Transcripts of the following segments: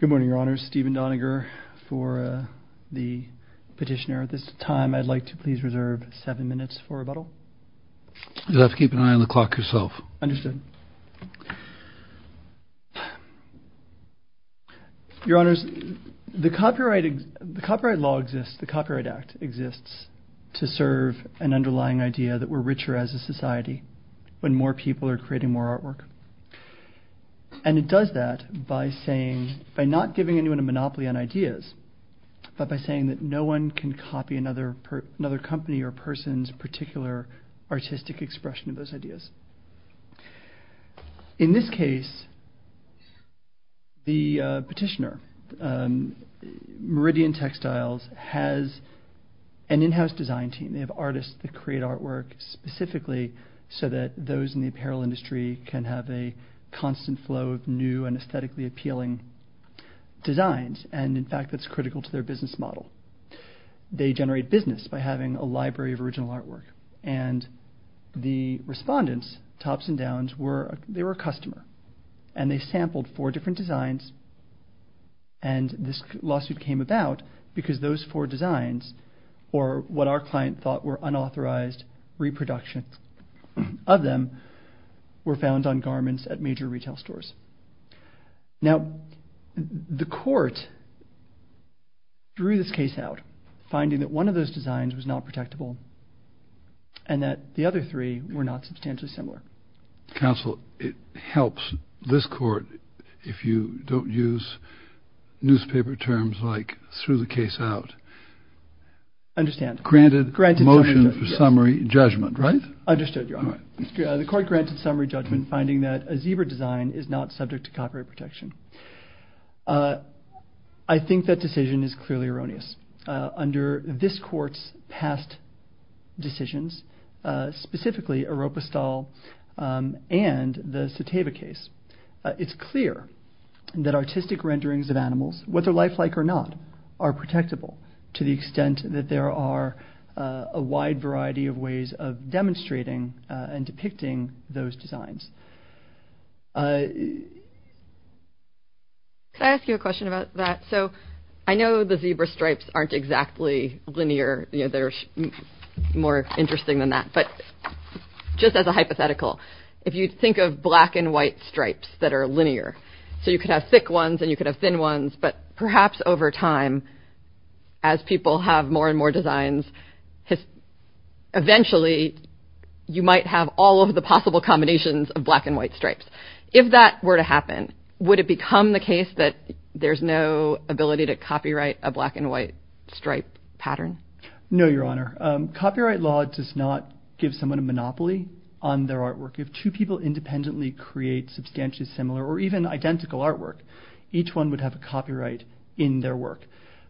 Good morning, Your Honors. Stephen Doniger for the petitioner. At this time, I'd like to please reserve seven minutes for rebuttal. You'll have to keep an eye on the clock yourself. Understood. Your Honors, the copyright law exists, the Copyright Act exists, to serve an underlying idea that we're richer as a society when more people are creating more artwork. And it does that by saying, by not giving anyone a monopoly on ideas, but by saying that no one can copy another company or person's particular artistic expression of those ideas. In this case, the petitioner, Meridian Textiles, has an in-house design team. They have artists that create artwork specifically so that those in the apparel industry can have a constant flow of new and aesthetically appealing designs. And in fact, that's critical to their business model. They generate business by having a library of original artwork. And the respondents, Topson Downs, they were a customer. And they sampled four different designs. And this lawsuit came about because those four designs, or what our client thought were unauthorized reproductions of them, were found on garments at major retail stores. Now, the court drew this case out, finding that one of those designs was not protectable and that the other three were not substantially similar. Counsel, it helps this court if you don't use newspaper terms like threw the case out. I understand. Granted motion for summary judgment, right? Understood, Your Honor. The court granted summary judgment, finding that a zebra design is not subject to copyright protection. I think that decision is clearly erroneous. Under this court's past decisions, specifically Oropastal and the Seteva case, it's clear that artistic renderings of animals, whether lifelike or not, are protectable to the extent that there are a wide variety of ways of demonstrating and depicting those designs. Can I ask you a question about that? So I know the zebra stripes aren't exactly linear. They're more interesting than that. But just as a hypothetical, if you think of black and white stripes, they're linear. So you could have thick ones and you could have thin ones. But perhaps over time, as people have more and more designs, eventually you might have all of the possible combinations of black and white stripes. If that were to happen, would it become the case that there's no ability to copyright a black and white stripe pattern? No, Your Honor. Copyright law does not give someone a monopoly on their artwork. If two people independently create substantially similar or even identical artwork, each one would have a copyright in their work.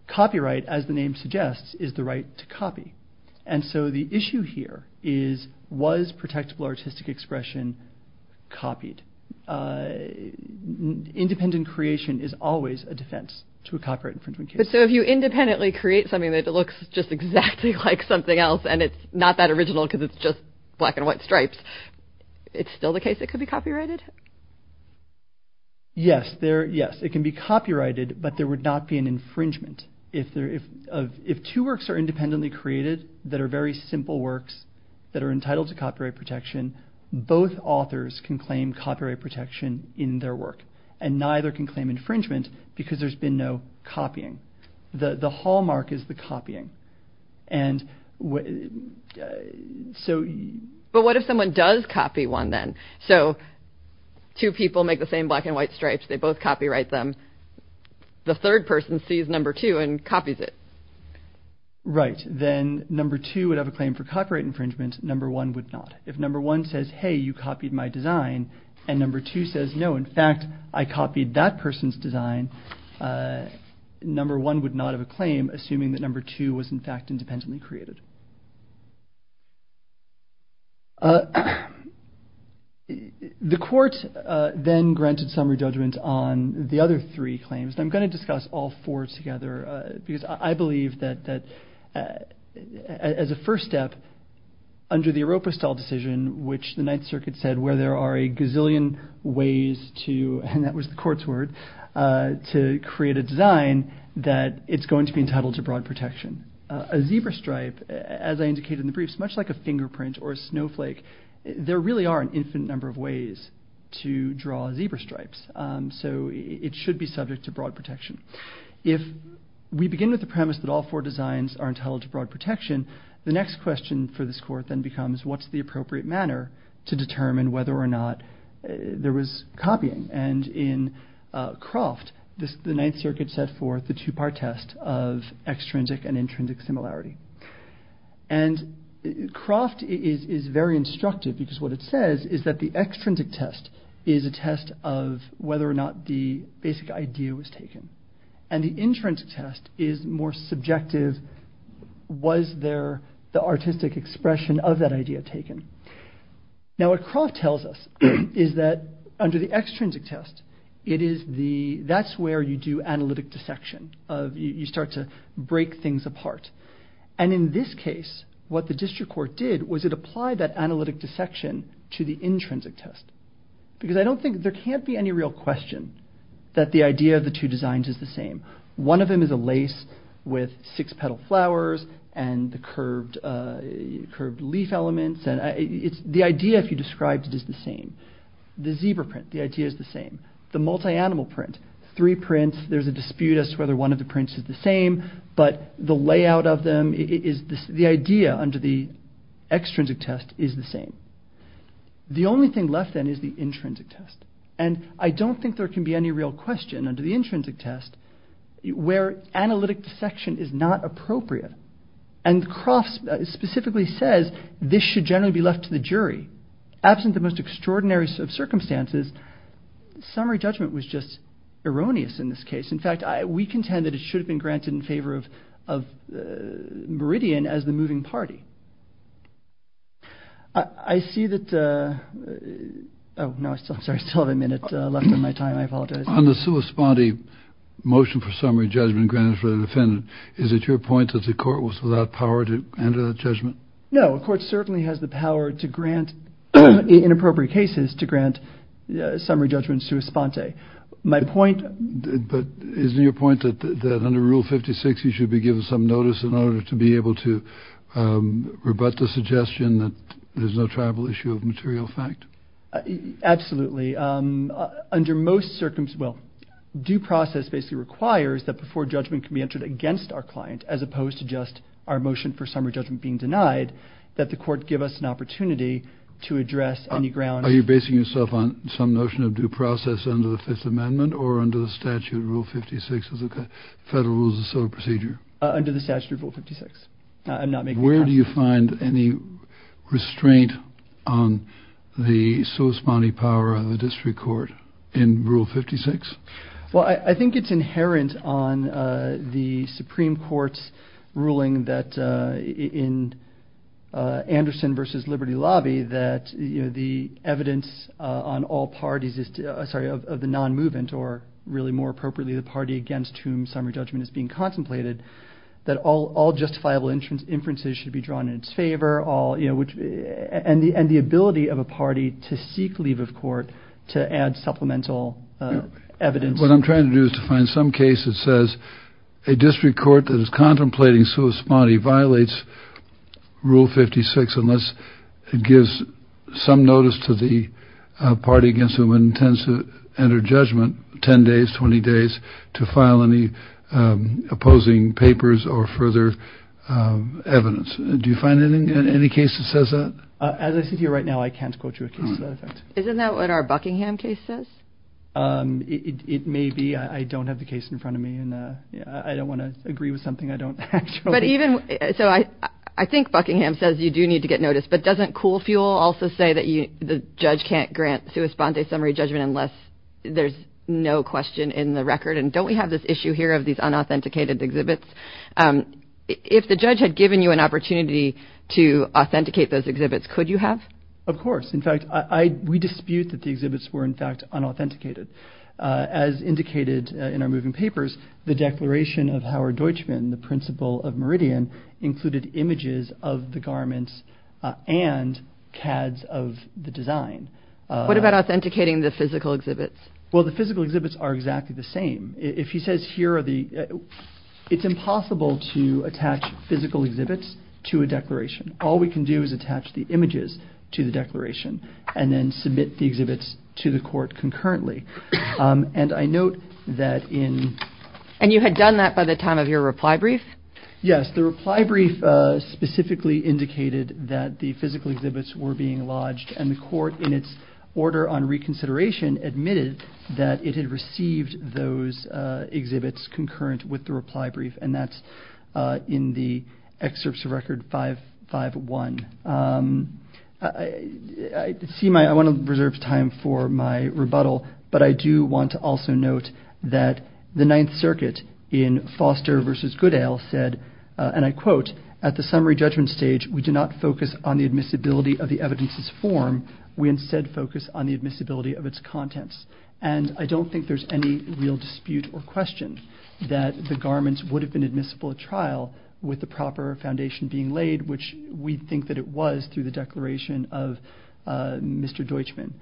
Copyright, as the name suggests, is the right to copy. And so the issue here is, was protectable artistic expression copied? Independent creation is always a defense to a copyright infringement case. But so if you independently create something that looks just exactly like something else and it's not that original because it's just black and white stripes, it's still the case it could be copyrighted? Yes. It can be copyrighted, but there would not be an infringement. If two works are independently created that are very simple works that are entitled to copyright protection, both authors can claim copyright protection in their work. And neither can claim infringement because there's been no copying. The hallmark is the copying. And so... But what if someone does copy one then? So two people make the same black and white stripes. They both copyright them. The third person sees number two and copies it. Right. Then number two would have a claim for copyright infringement. Number one would not. If number one says, hey, you copied my design. And number two says, no, in fact, I copied that person's design. Number one would not have a claim, assuming that number two was in fact independently created. The court then granted summary judgment on the other three claims. I'm going to discuss all four together because I believe that as a first step under the Oropestal decision, which the Ninth Circuit said where there are a gazillion ways to, and that was the court's design, that it's going to be entitled to broad protection. A zebra stripe, as I indicated in the briefs, much like a fingerprint or a snowflake, there really are an infinite number of ways to draw zebra stripes. So it should be subject to broad protection. If we begin with the premise that all four designs are entitled to broad protection, the next question for this court then becomes what's the appropriate manner to determine whether or not there was copying. And in Croft, the Ninth Circuit set forth the two-part test of extrinsic and intrinsic similarity. And Croft is very instructive because what it says is that the extrinsic test is a test of whether or not the basic idea was taken. And the intrinsic test is more subjective. Was there the artistic expression of that idea taken? Now what Croft tells us is that under the extrinsic test, that's where you do analytic dissection. You start to break things apart. And in this case, what the district court did was it applied that analytic dissection to the intrinsic test. Because I don't think there can't be any real question that the idea of the two designs is the same. One of the arguments, the idea if you described it is the same. The zebra print, the idea is the same. The multi-animal print, three prints, there's a dispute as to whether one of the prints is the same, but the layout of them, the idea under the extrinsic test is the same. The only thing left then is the intrinsic test. And I don't think there can be any real question under the intrinsic test where analytic dissection is not appropriate. And Croft specifically says this should generally be left to the jury. Absent the most extraordinary circumstances, summary judgment was just erroneous in this case. In fact, we contend that it should have been granted in favor of Meridian as the moving party. I see that, oh no, I'm sorry, I still have a minute left on my time. I apologize. On the sui spondi motion for summary judgment granted for the defendant, is it your point that the court was without power to enter that judgment? No, the court certainly has the power to grant, in appropriate cases, to grant summary judgment sui spondi. My point... But isn't your point that under Rule 56 you should be given some notice in order to be able to rebut the suggestion that there's no tribal issue of material fact? Absolutely. Under most circumstances, well, due process basically requires that before we suggest our motion for summary judgment being denied, that the court give us an opportunity to address any grounds... Are you basing yourself on some notion of due process under the Fifth Amendment or under the statute of Rule 56 as a federal rule of procedure? Under the statute of Rule 56. I'm not making a pass. Where do you find any restraint on the sui spondi power of the district court in Rule 56? Well, I think it's inherent on the Supreme Court's ruling that in Anderson versus Liberty Lobby that the evidence on all parties of the non-movement, or really more appropriately the party against whom summary judgment is being contemplated, that all justifiable inferences should be drawn in its favor, and the ability of a party to seek leave of court to add supplemental evidence... What I'm trying to do is to find some case that says a district court that is contemplating sui spondi violates Rule 56 unless it gives some notice to the party against whom it intends to enter judgment 10 days, 20 days to file any opposing papers or further evidence. Do you find any case that says that? As I sit here right now, I can't quote you a case that says that. Isn't that what our Buckingham case says? It may be. I don't have the case in front of me, and I don't want to agree with something I don't actually... I think Buckingham says you do need to get notice, but doesn't Cool Fuel also say that the judge can't grant sui spondi summary judgment unless there's no question in the record? Don't we have this issue here of these unauthenticated exhibits? If the judge had given you an opportunity to authenticate those exhibits, could you have? Of course. In fact, we dispute that the exhibits were in fact unauthenticated. As indicated in our moving papers, the declaration of Howard Deutschman, the principal of Meridian, included images of the garments and CADs of the design. What about authenticating the physical exhibits? Well, the physical exhibits are exactly the same. If he says here are the... It's impossible to attach physical exhibits to a declaration. All we can do is attach the images to the declaration and then submit the exhibits to the court concurrently. And I note that in... And you had done that by the time of your reply brief? Yes. The reply brief specifically indicated that the physical exhibits were being lodged, and the court in its order on reconsideration admitted that it had received those exhibits concurrent with the reply brief. And that's in the excerpts of record 551. I want to reserve time for my rebuttal, but I do want to also note that the Ninth Circuit in Foster versus Goodale said, and I quote, at the summary judgment stage, we do not focus on the admissibility of the evidence's form. We instead focus on the admissibility of its contents. And I don't think there's any real dispute or question that the garments would have been admissible at trial with the proper foundation being laid, which we think that it was through the declaration of Mr. Deutschman.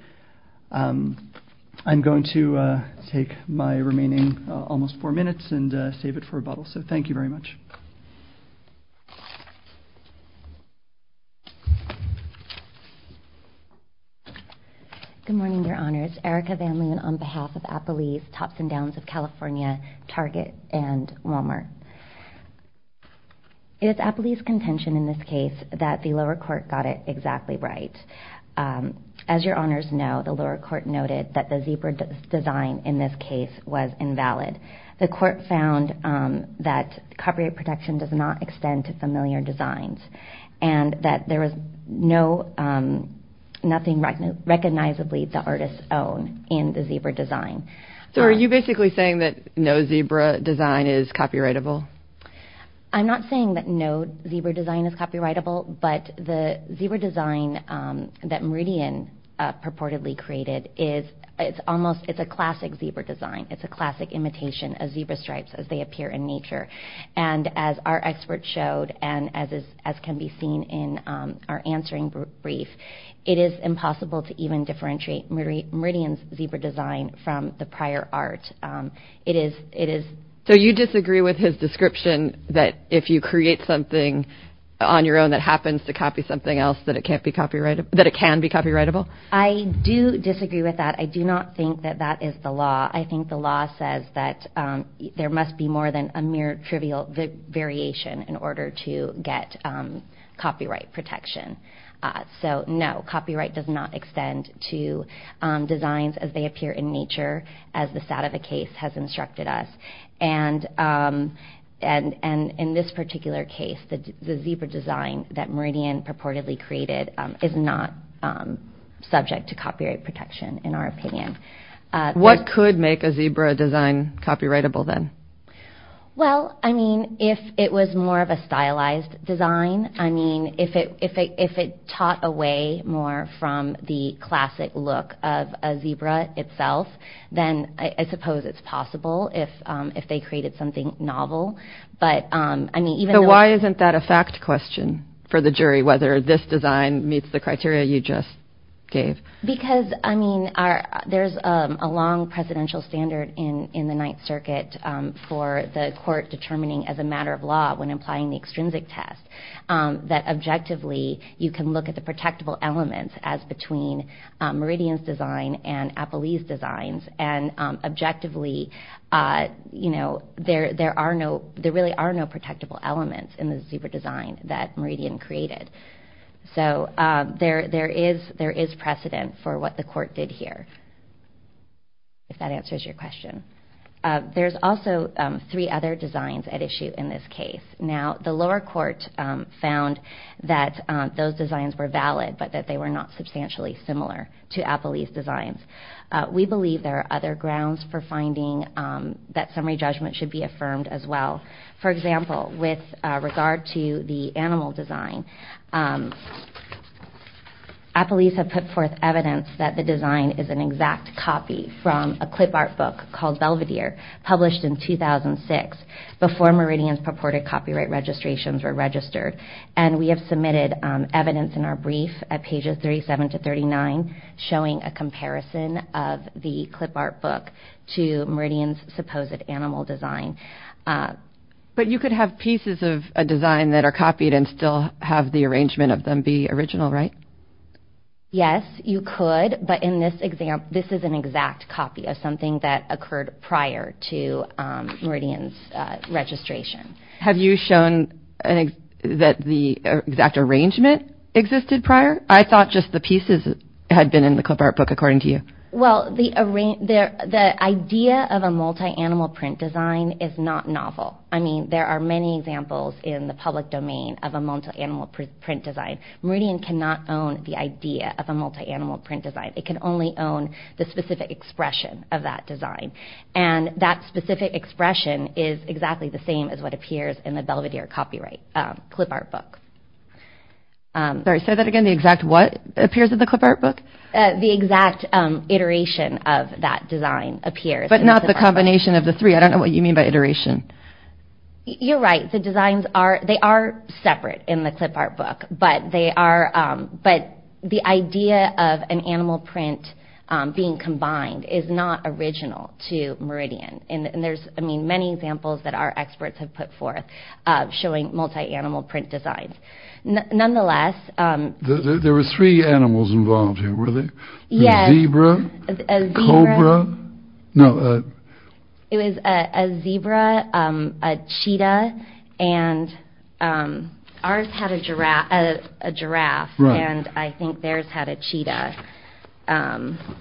I'm going to take my remaining almost four minutes and save it for rebuttal. So thank you very much. Good morning, Your Honors. Erica Van Loon on behalf of Appalese, Tops and Downs of California, Target, and Walmart. It is Appalese's contention in this case that the lower court got it exactly right. As Your Honors know, the lower court noted that the zebra design in this case was a design that did not extend to familiar designs and that there was nothing recognizably the artist's own in the zebra design. So are you basically saying that no zebra design is copyrightable? I'm not saying that no zebra design is copyrightable, but the zebra design that Meridian purportedly created is a classic zebra design. It's a classic imitation of our expert showed and as can be seen in our answering brief, it is impossible to even differentiate Meridian's zebra design from the prior art. So you disagree with his description that if you create something on your own that happens to copy something else that it can be copyrightable? I do disagree with that. I do not think that that is the law. I think the law says that there must be more than a mere trivial variation in order to get copyright protection. So no, copyright does not extend to designs as they appear in nature as the SATAVA case has instructed us. And in this particular case, the zebra design that Meridian purportedly created is not subject to copyright protection in our opinion. What could make a zebra design copyrightable then? Well, I mean, if it was more of a stylized design, I mean, if it taught away more from the classic look of a zebra itself, then I suppose it's possible if they created something novel. But I mean, even though... So why isn't that a fact question for the jury, whether this design meets the criteria you just gave? Because I mean, there's a long presidential standard in the Ninth Circuit for the court determining as a matter of law when applying the extrinsic test that objectively you can look at the protectable elements as between Meridian's design and Apolli's designs. And objectively, you know, there really are no protectable elements in the zebra design that Meridian Court did here, if that answers your question. There's also three other designs at issue in this case. Now, the lower court found that those designs were valid, but that they were not substantially similar to Apolli's designs. We believe there are other grounds for finding that summary judgment should be affirmed as well. For example, with regard to the animal design, Apolli's have put forth evidence that the design is an exact copy from a clip art book called Belvedere, published in 2006, before Meridian's purported copyright registrations were registered. And we have submitted evidence in our brief at pages 37 to 39, showing a comparison of the clip art book to Meridian's supposed animal design. But you could have pieces of a design that are copied and still have the arrangement of them be original, right? Yes, you could. But in this example, this is an exact copy of something that occurred prior to Meridian's registration. Have you shown that the exact arrangement existed prior? I thought just the pieces had been in the clip art book, according to you. Well, the idea of a multi-animal print design is not novel. I mean, there are many examples in the public domain of a multi-animal print design. Meridian cannot own the idea of a multi-animal print design. It can only own the specific expression of that design. And that specific expression is exactly the same as what appears in the Belvedere copyright clip art book. Sorry, say that again. The exact what appears in the clip art book? The exact iteration of that design appears. But not the combination of the three. I don't know what you mean by iteration. You're right. The designs are separate in the clip art book. But the idea of an animal print being combined is not original to Meridian. And there's many examples that our experts have put forth showing multi-animal print designs. Nonetheless... There were three animals involved here. Were there a zebra, a cobra? Yes. It was a zebra, a cheetah, and ours had a giraffe. And I think theirs had a cheetah.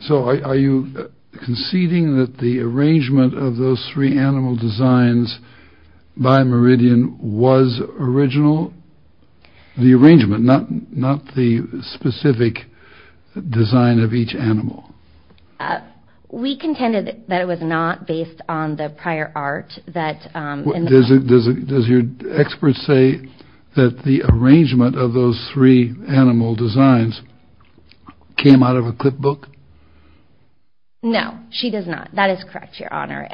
So are you conceding that the arrangement of those three animal designs by Meridian was original? The arrangement, not the specific design of each animal? We contended that it was not based on the prior art that... Does your expert say that the arrangement of those three animal designs came out of a clip book? No, she does not. That is correct, Your Honor.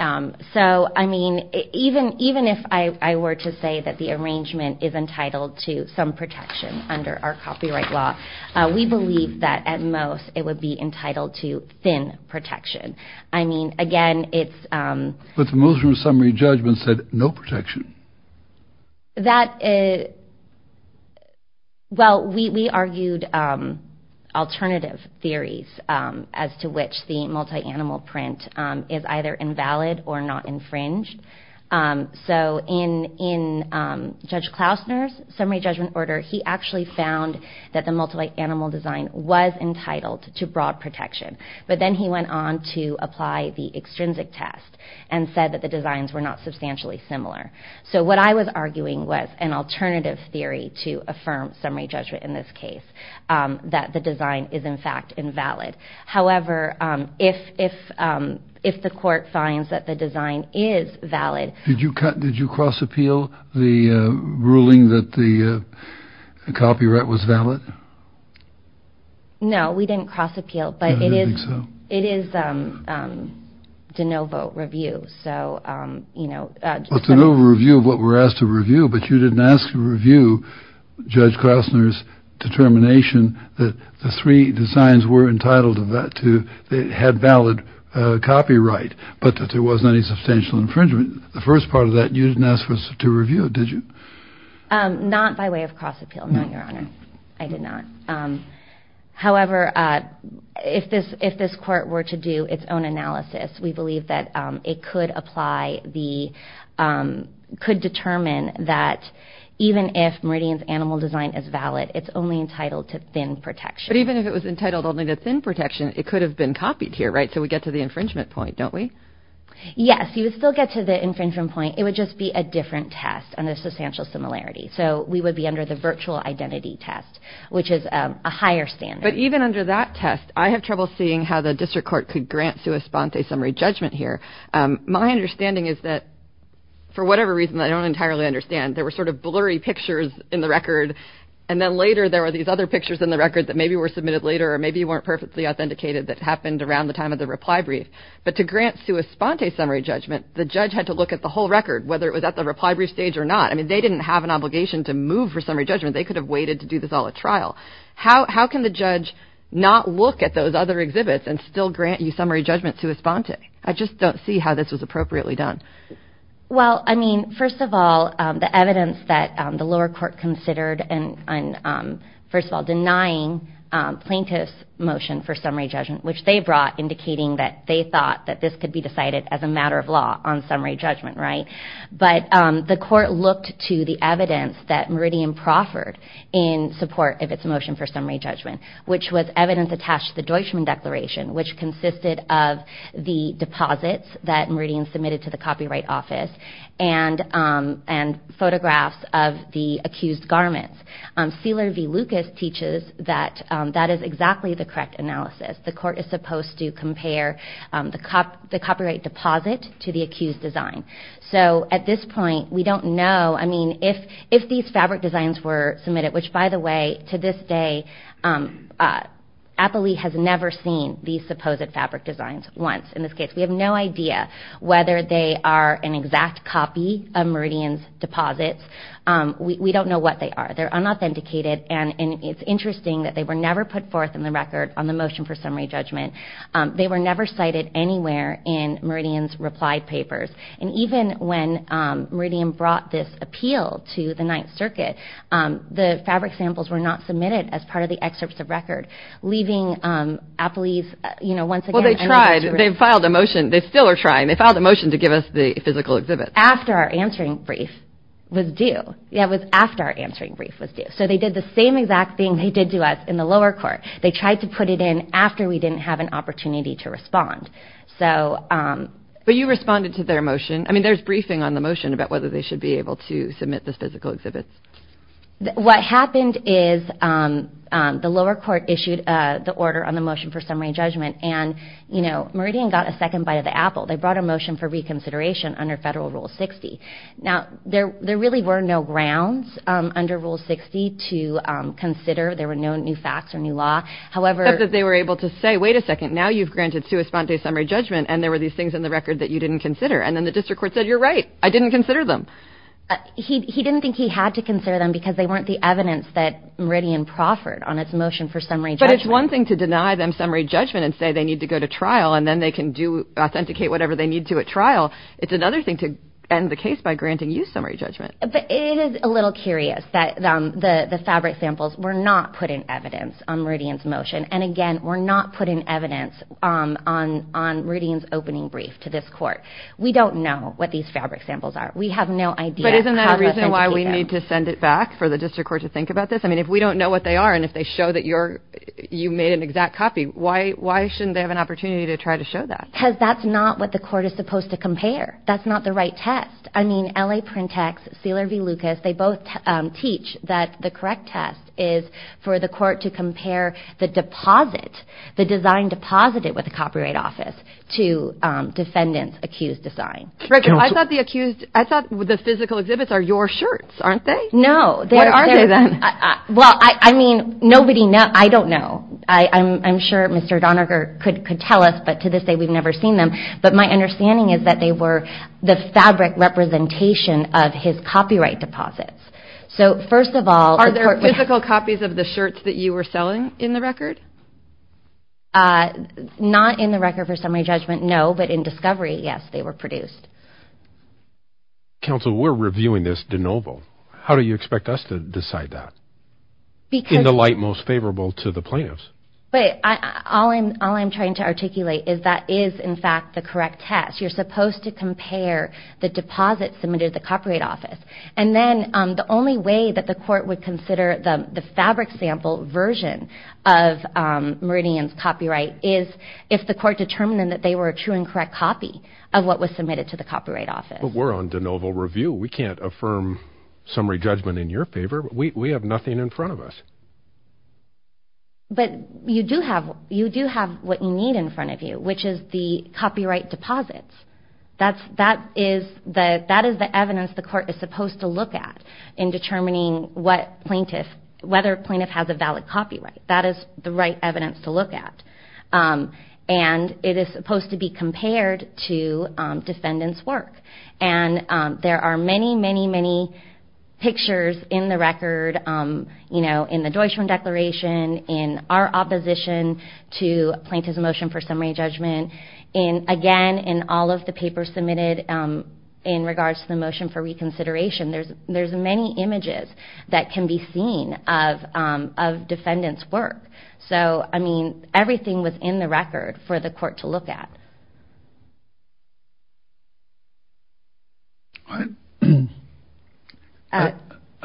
So, I mean, even if I were to say that the arrangement is entitled to some protection under our copyright law, we believe that at most it would be entitled to thin protection. I mean, again, it's... But the Muslim Summary Judgment said no protection. That... Well, we argued alternative theories as to which the multi-animal print is either invalid or not infringed. So in Judge Klausner's Summary Judgment order, he actually found that the multi-animal design was entitled to broad protection. But then he went on to say that the design was in fact invalid. So what I was arguing was an alternative theory to affirm Summary Judgment in this case, that the design is in fact invalid. However, if the court finds that the design is valid... Did you cross-appeal the ruling that the copyright was valid? No, we didn't cross-appeal, but it is De Novo Review, so... De Novo Review of what we're asked to review, but you didn't ask to review Judge Klausner's determination that the three designs were entitled to... They had valid copyright, but that there wasn't any substantial infringement. The first part of that, you didn't ask us to review it, did you? Not by way of cross-appeal, no, Your Honor. I did not. However, if this court were to do its own analysis, we believe that it could apply the... Could determine that even if Meridian's animal design is valid, it's only entitled to thin protection. But even if it was entitled only to thin protection, it could have been copied here, right? So we get to the infringement point, don't we? Yes, you would still get to the infringement point. It would just be a different test and a substantial similarity. So we would be under the virtual identity test, which is a higher standard. But even under that test, I have trouble seeing how the district court could grant sua sponte summary judgment here. My understanding is that, for whatever reason that I don't entirely understand, there were sort of blurry pictures in the record. And then later, there were these other pictures in the record that maybe were submitted later, or maybe weren't perfectly authenticated that happened around the time of the reply brief. But to grant sua sponte summary judgment, the judge had to look at the whole record, whether it was at the reply brief stage or not. I mean, they didn't have an obligation to move for summary judgment. They could have waited to do this trial. How can the judge not look at those other exhibits and still grant you summary judgment sua sponte? I just don't see how this was appropriately done. Well, I mean, first of all, the evidence that the lower court considered and, first of all, denying plaintiff's motion for summary judgment, which they brought indicating that they thought that this could be decided as a matter of law on summary judgment, right? But the court looked to the evidence that Meridian proffered in support of its motion for summary judgment, which was evidence attached to the Deutschman Declaration, which consisted of the deposits that Meridian submitted to the Copyright Office and photographs of the accused garments. Sealer v. Lucas teaches that that is exactly the correct analysis. The court is supposed to if these fabric designs were submitted, which, by the way, to this day, Appley has never seen these supposed fabric designs once in this case. We have no idea whether they are an exact copy of Meridian's deposits. We don't know what they are. They're unauthenticated. And it's interesting that they were never put forth in the record on the motion for summary judgment. They were never cited anywhere in Meridian's reply papers. And even when Meridian brought this appeal to the Ninth Circuit, the fabric samples were not submitted as part of the excerpts of record, leaving Appley's, you know, once again... Well, they tried. They filed a motion. They still are trying. They filed a motion to give us the physical exhibit. After our answering brief was due. Yeah, it was after our answering brief was due. So they did the same exact thing they did to us in the lower court. They tried to put it in after we didn't have an opportunity to respond. So... But you responded to their motion. I mean, there's briefing on the motion about whether they should be able to submit this physical exhibit. What happened is the lower court issued the order on the motion for summary judgment. And, you know, Meridian got a second bite of the apple. They brought a motion for reconsideration under federal Rule 60. Now, there really were no grounds under Rule 60 to consider. There were no new facts or new law. However... Except that they were able to say, wait a second, now you've granted sua sponte summary judgment. And there were these things in the record that you didn't consider. And then the district court said, you're right. I didn't consider them. He didn't think he had to consider them because they weren't the evidence that Meridian proffered on its motion for summary judgment. But it's one thing to deny them summary judgment and say they need to go to trial and then they can do authenticate whatever they need to at trial. It's another thing to end the case by granting you summary judgment. But it is a little curious that the fabric samples were not put in evidence on Meridian's motion. And again, we're not putting evidence on Meridian's opening brief to this court. We don't know what these fabric samples are. We have no idea. But isn't that a reason why we need to send it back for the district court to think about this? I mean, if we don't know what they are and if they show that you made an exact copy, why shouldn't they have an opportunity to try to show that? Because that's not what the court is supposed to compare. That's not the right test. I mean, L.A. Printex, Sealer v. Lucas, they both teach that the correct test is for the court to compare the deposit, the design deposited with the copyright office to defendant's accused design. I thought the physical exhibits are your shirts, aren't they? No. What are they then? Well, I mean, nobody knows. I don't know. I'm sure Mr. Doniger could tell us. But to this day, we've never seen them. But my understanding is that they were the fabric representation of his copyright deposits. So first of all, are there physical copies of the shirts that you were selling in the record? Not in the record for summary judgment, no. But in discovery, yes, they were produced. Counsel, we're reviewing this de novo. How do you expect us to decide that? In the light most favorable to the plaintiffs. But all I'm trying to articulate is that is, in fact, the correct test. You're supposed to compare the deposit submitted to the copyright office. And then the only way that the court would consider the fabric sample version of Meridian's copyright is if the court determined that they were a true and correct copy of what was submitted to the copyright office. But we're on de novo review. We can't affirm summary judgment in your favor. We have nothing in front of us. But you do have what you need in front of you, which is the copyright deposits. That is the evidence the court is supposed to look at in determining what plaintiff, whether plaintiff has a valid copyright. That is the right evidence to look at. And it is supposed to be compared to defendant's work. And there are many, many, many pictures in the record, you know, in the Deutschland Declaration, in our opposition to plaintiff's motion for summary judgment. And again, in all of the papers submitted in regards to the motion for reconsideration, there's many images that can be seen of defendant's work. So, I mean, everything was in the record for the court to look at. All right. I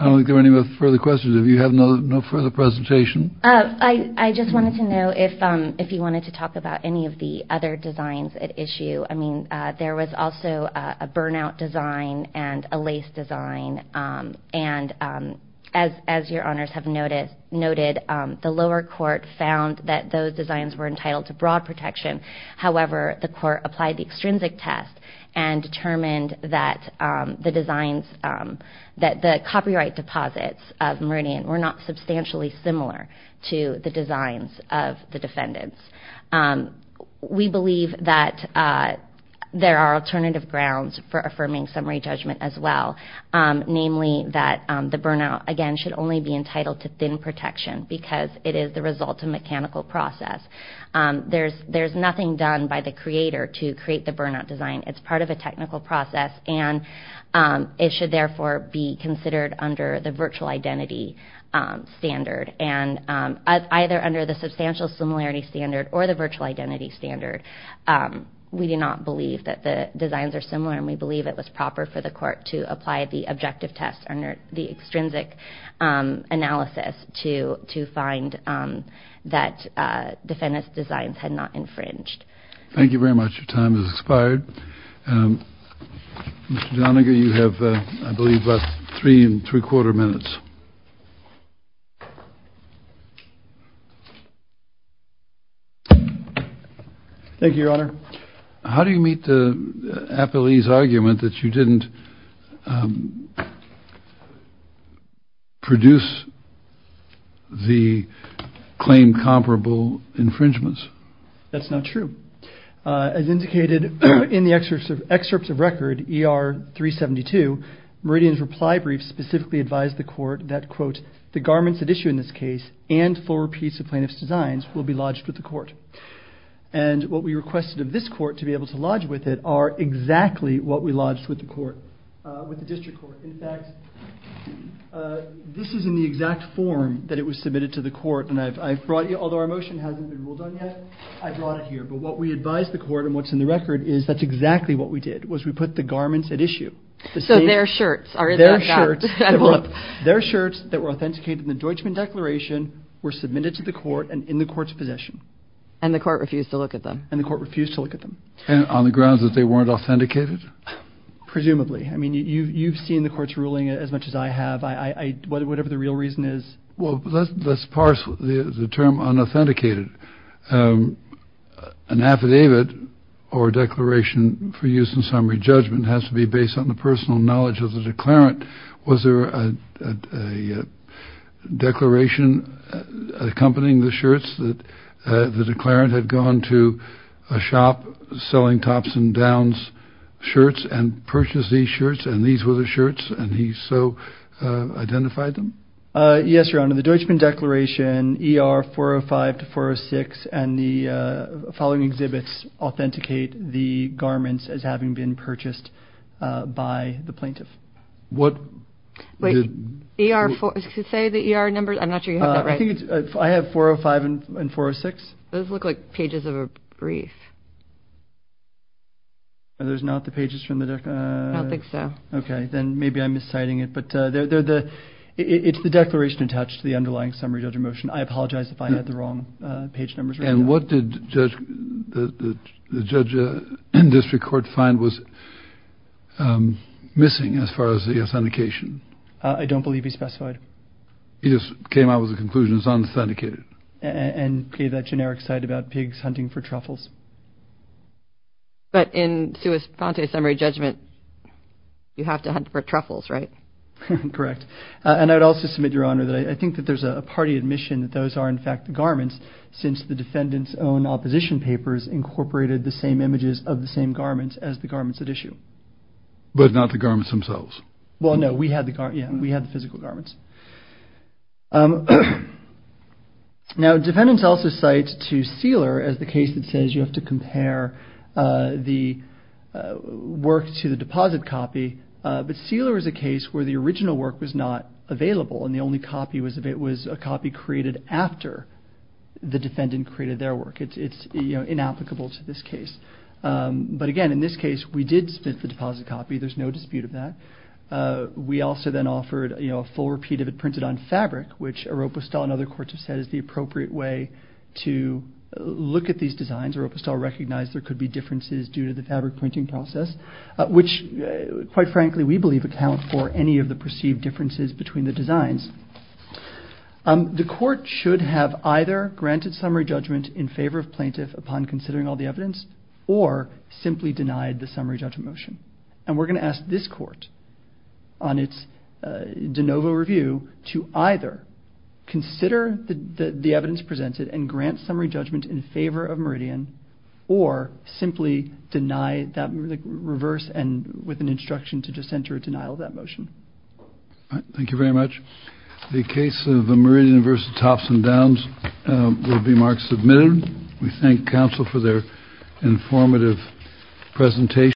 don't think there are any further questions. If you have no further presentation. I just wanted to know if you wanted to talk about any of the other designs at issue. I mean, there was also a burnout design and a lace design. And as your honors have noted, the lower court found that those designs were entitled to broad protection. However, the court applied the extrinsic test and determined that the copyright deposits of Meridian were not substantially similar to the designs of the defendants. We believe that there are alternative grounds for affirming summary judgment as well. Namely, that the burnout, again, should only be entitled to thin protection because it is the result of mechanical process. There's nothing done by the creator to create the burnout design. It's part of a technical process. And it should, therefore, be considered under the virtual identity standard. And either under the substantial similarity standard or the virtual identity standard, we do not believe that the designs are similar. And we believe it was proper for the court to apply the objective test the extrinsic analysis to find that defendants' designs had not infringed. Thank you very much. Your time has expired. Mr. Doniger, you have, I believe, about three and three quarter minutes. Thank you, your honor. How do you meet the appellee's argument that you didn't produce the claim comparable infringements? That's not true. As indicated in the excerpts of record ER 372, Meridian's reply brief specifically advised the court that, quote, the garments at issue in this case and full repeats of plaintiff's designs will be lodged with the court. And what we requested of this court to be able to lodge with it are exactly what we lodged with the court, with the district court. In fact, this is in the exact form that it was submitted to the court. And I've brought you, although our motion hasn't been ruled on yet, I brought it here. But what we advised the court and what's in the record is that's exactly what we did, was we put the garments at issue. So their shirts are in that. Their shirts that were authenticated in the Deutschman Declaration were submitted to the court and in the court's possession. And the court refused to look at them. And the court refused to look at them. And on the grounds that they weren't authenticated? Presumably. I mean, you've seen the court's ruling as much as I have. Whatever the real reason is. Well, let's parse the term unauthenticated. An affidavit or declaration for use in summary judgment has to be based on the personal knowledge of the declarant. Was there a declaration accompanying the shirts that the declarant had gone to a shop selling Tops and Downs shirts and purchased these shirts? And these were the shirts? And he so identified them? Yes, Your Honor. The Deutschman Declaration ER 405 to 406 and the following exhibits authenticate the garments as having been purchased by the plaintiff. What? Wait, ER 405, say the ER numbers. I'm not sure you have that right. I have 405 and 406. Those look like pages of a brief. Are those not the pages from the? I don't think so. Okay, then maybe I'm misciting it. But it's the declaration attached to the underlying summary judgment motion. I apologize if I had the wrong page numbers. And what did the judge in district court find was missing as far as the authentication? I don't believe he specified. He just came out with a conclusion. It's authenticated. And gave that generic side about pigs hunting for truffles. But in sui fonte summary judgment, you have to hunt for truffles, right? Correct. And I'd also submit, Your Honor, that I think that there's a party admission that those are in fact the garments since the defendant's own opposition papers incorporated the same images of the same garments as the garments at issue. But not the garments themselves. Well, no, we had the physical garments. Now, defendants also cite to Seeler as the case that says you have to compare the work to the deposit copy. But Seeler is a case where the original work was not available. And the only copy was a copy created after the defendant created their work. It's inapplicable to this case. But again, in this case, we did submit the deposit copy. There's no dispute of that. We also then offered a full repeat of it printed on fabric, which Oropa Stahl and other courts have said is the appropriate way to look at these designs. Oropa Stahl recognized there could be differences due to the fabric printing process, which, quite frankly, we believe account for any of the perceived differences between the designs. The court should have either granted summary judgment in favor of plaintiff upon considering all the evidence or simply denied the summary judgment motion. And we're going to ask this court on its de novo review to either consider the evidence presented and grant summary judgment in favor of Meridian or simply deny that reverse and with an instruction to just enter a denial of that motion. All right. Thank you very much. The case of Meridian v. Thompson Downs will be marked submitted. We thank counsel for their informative presentation.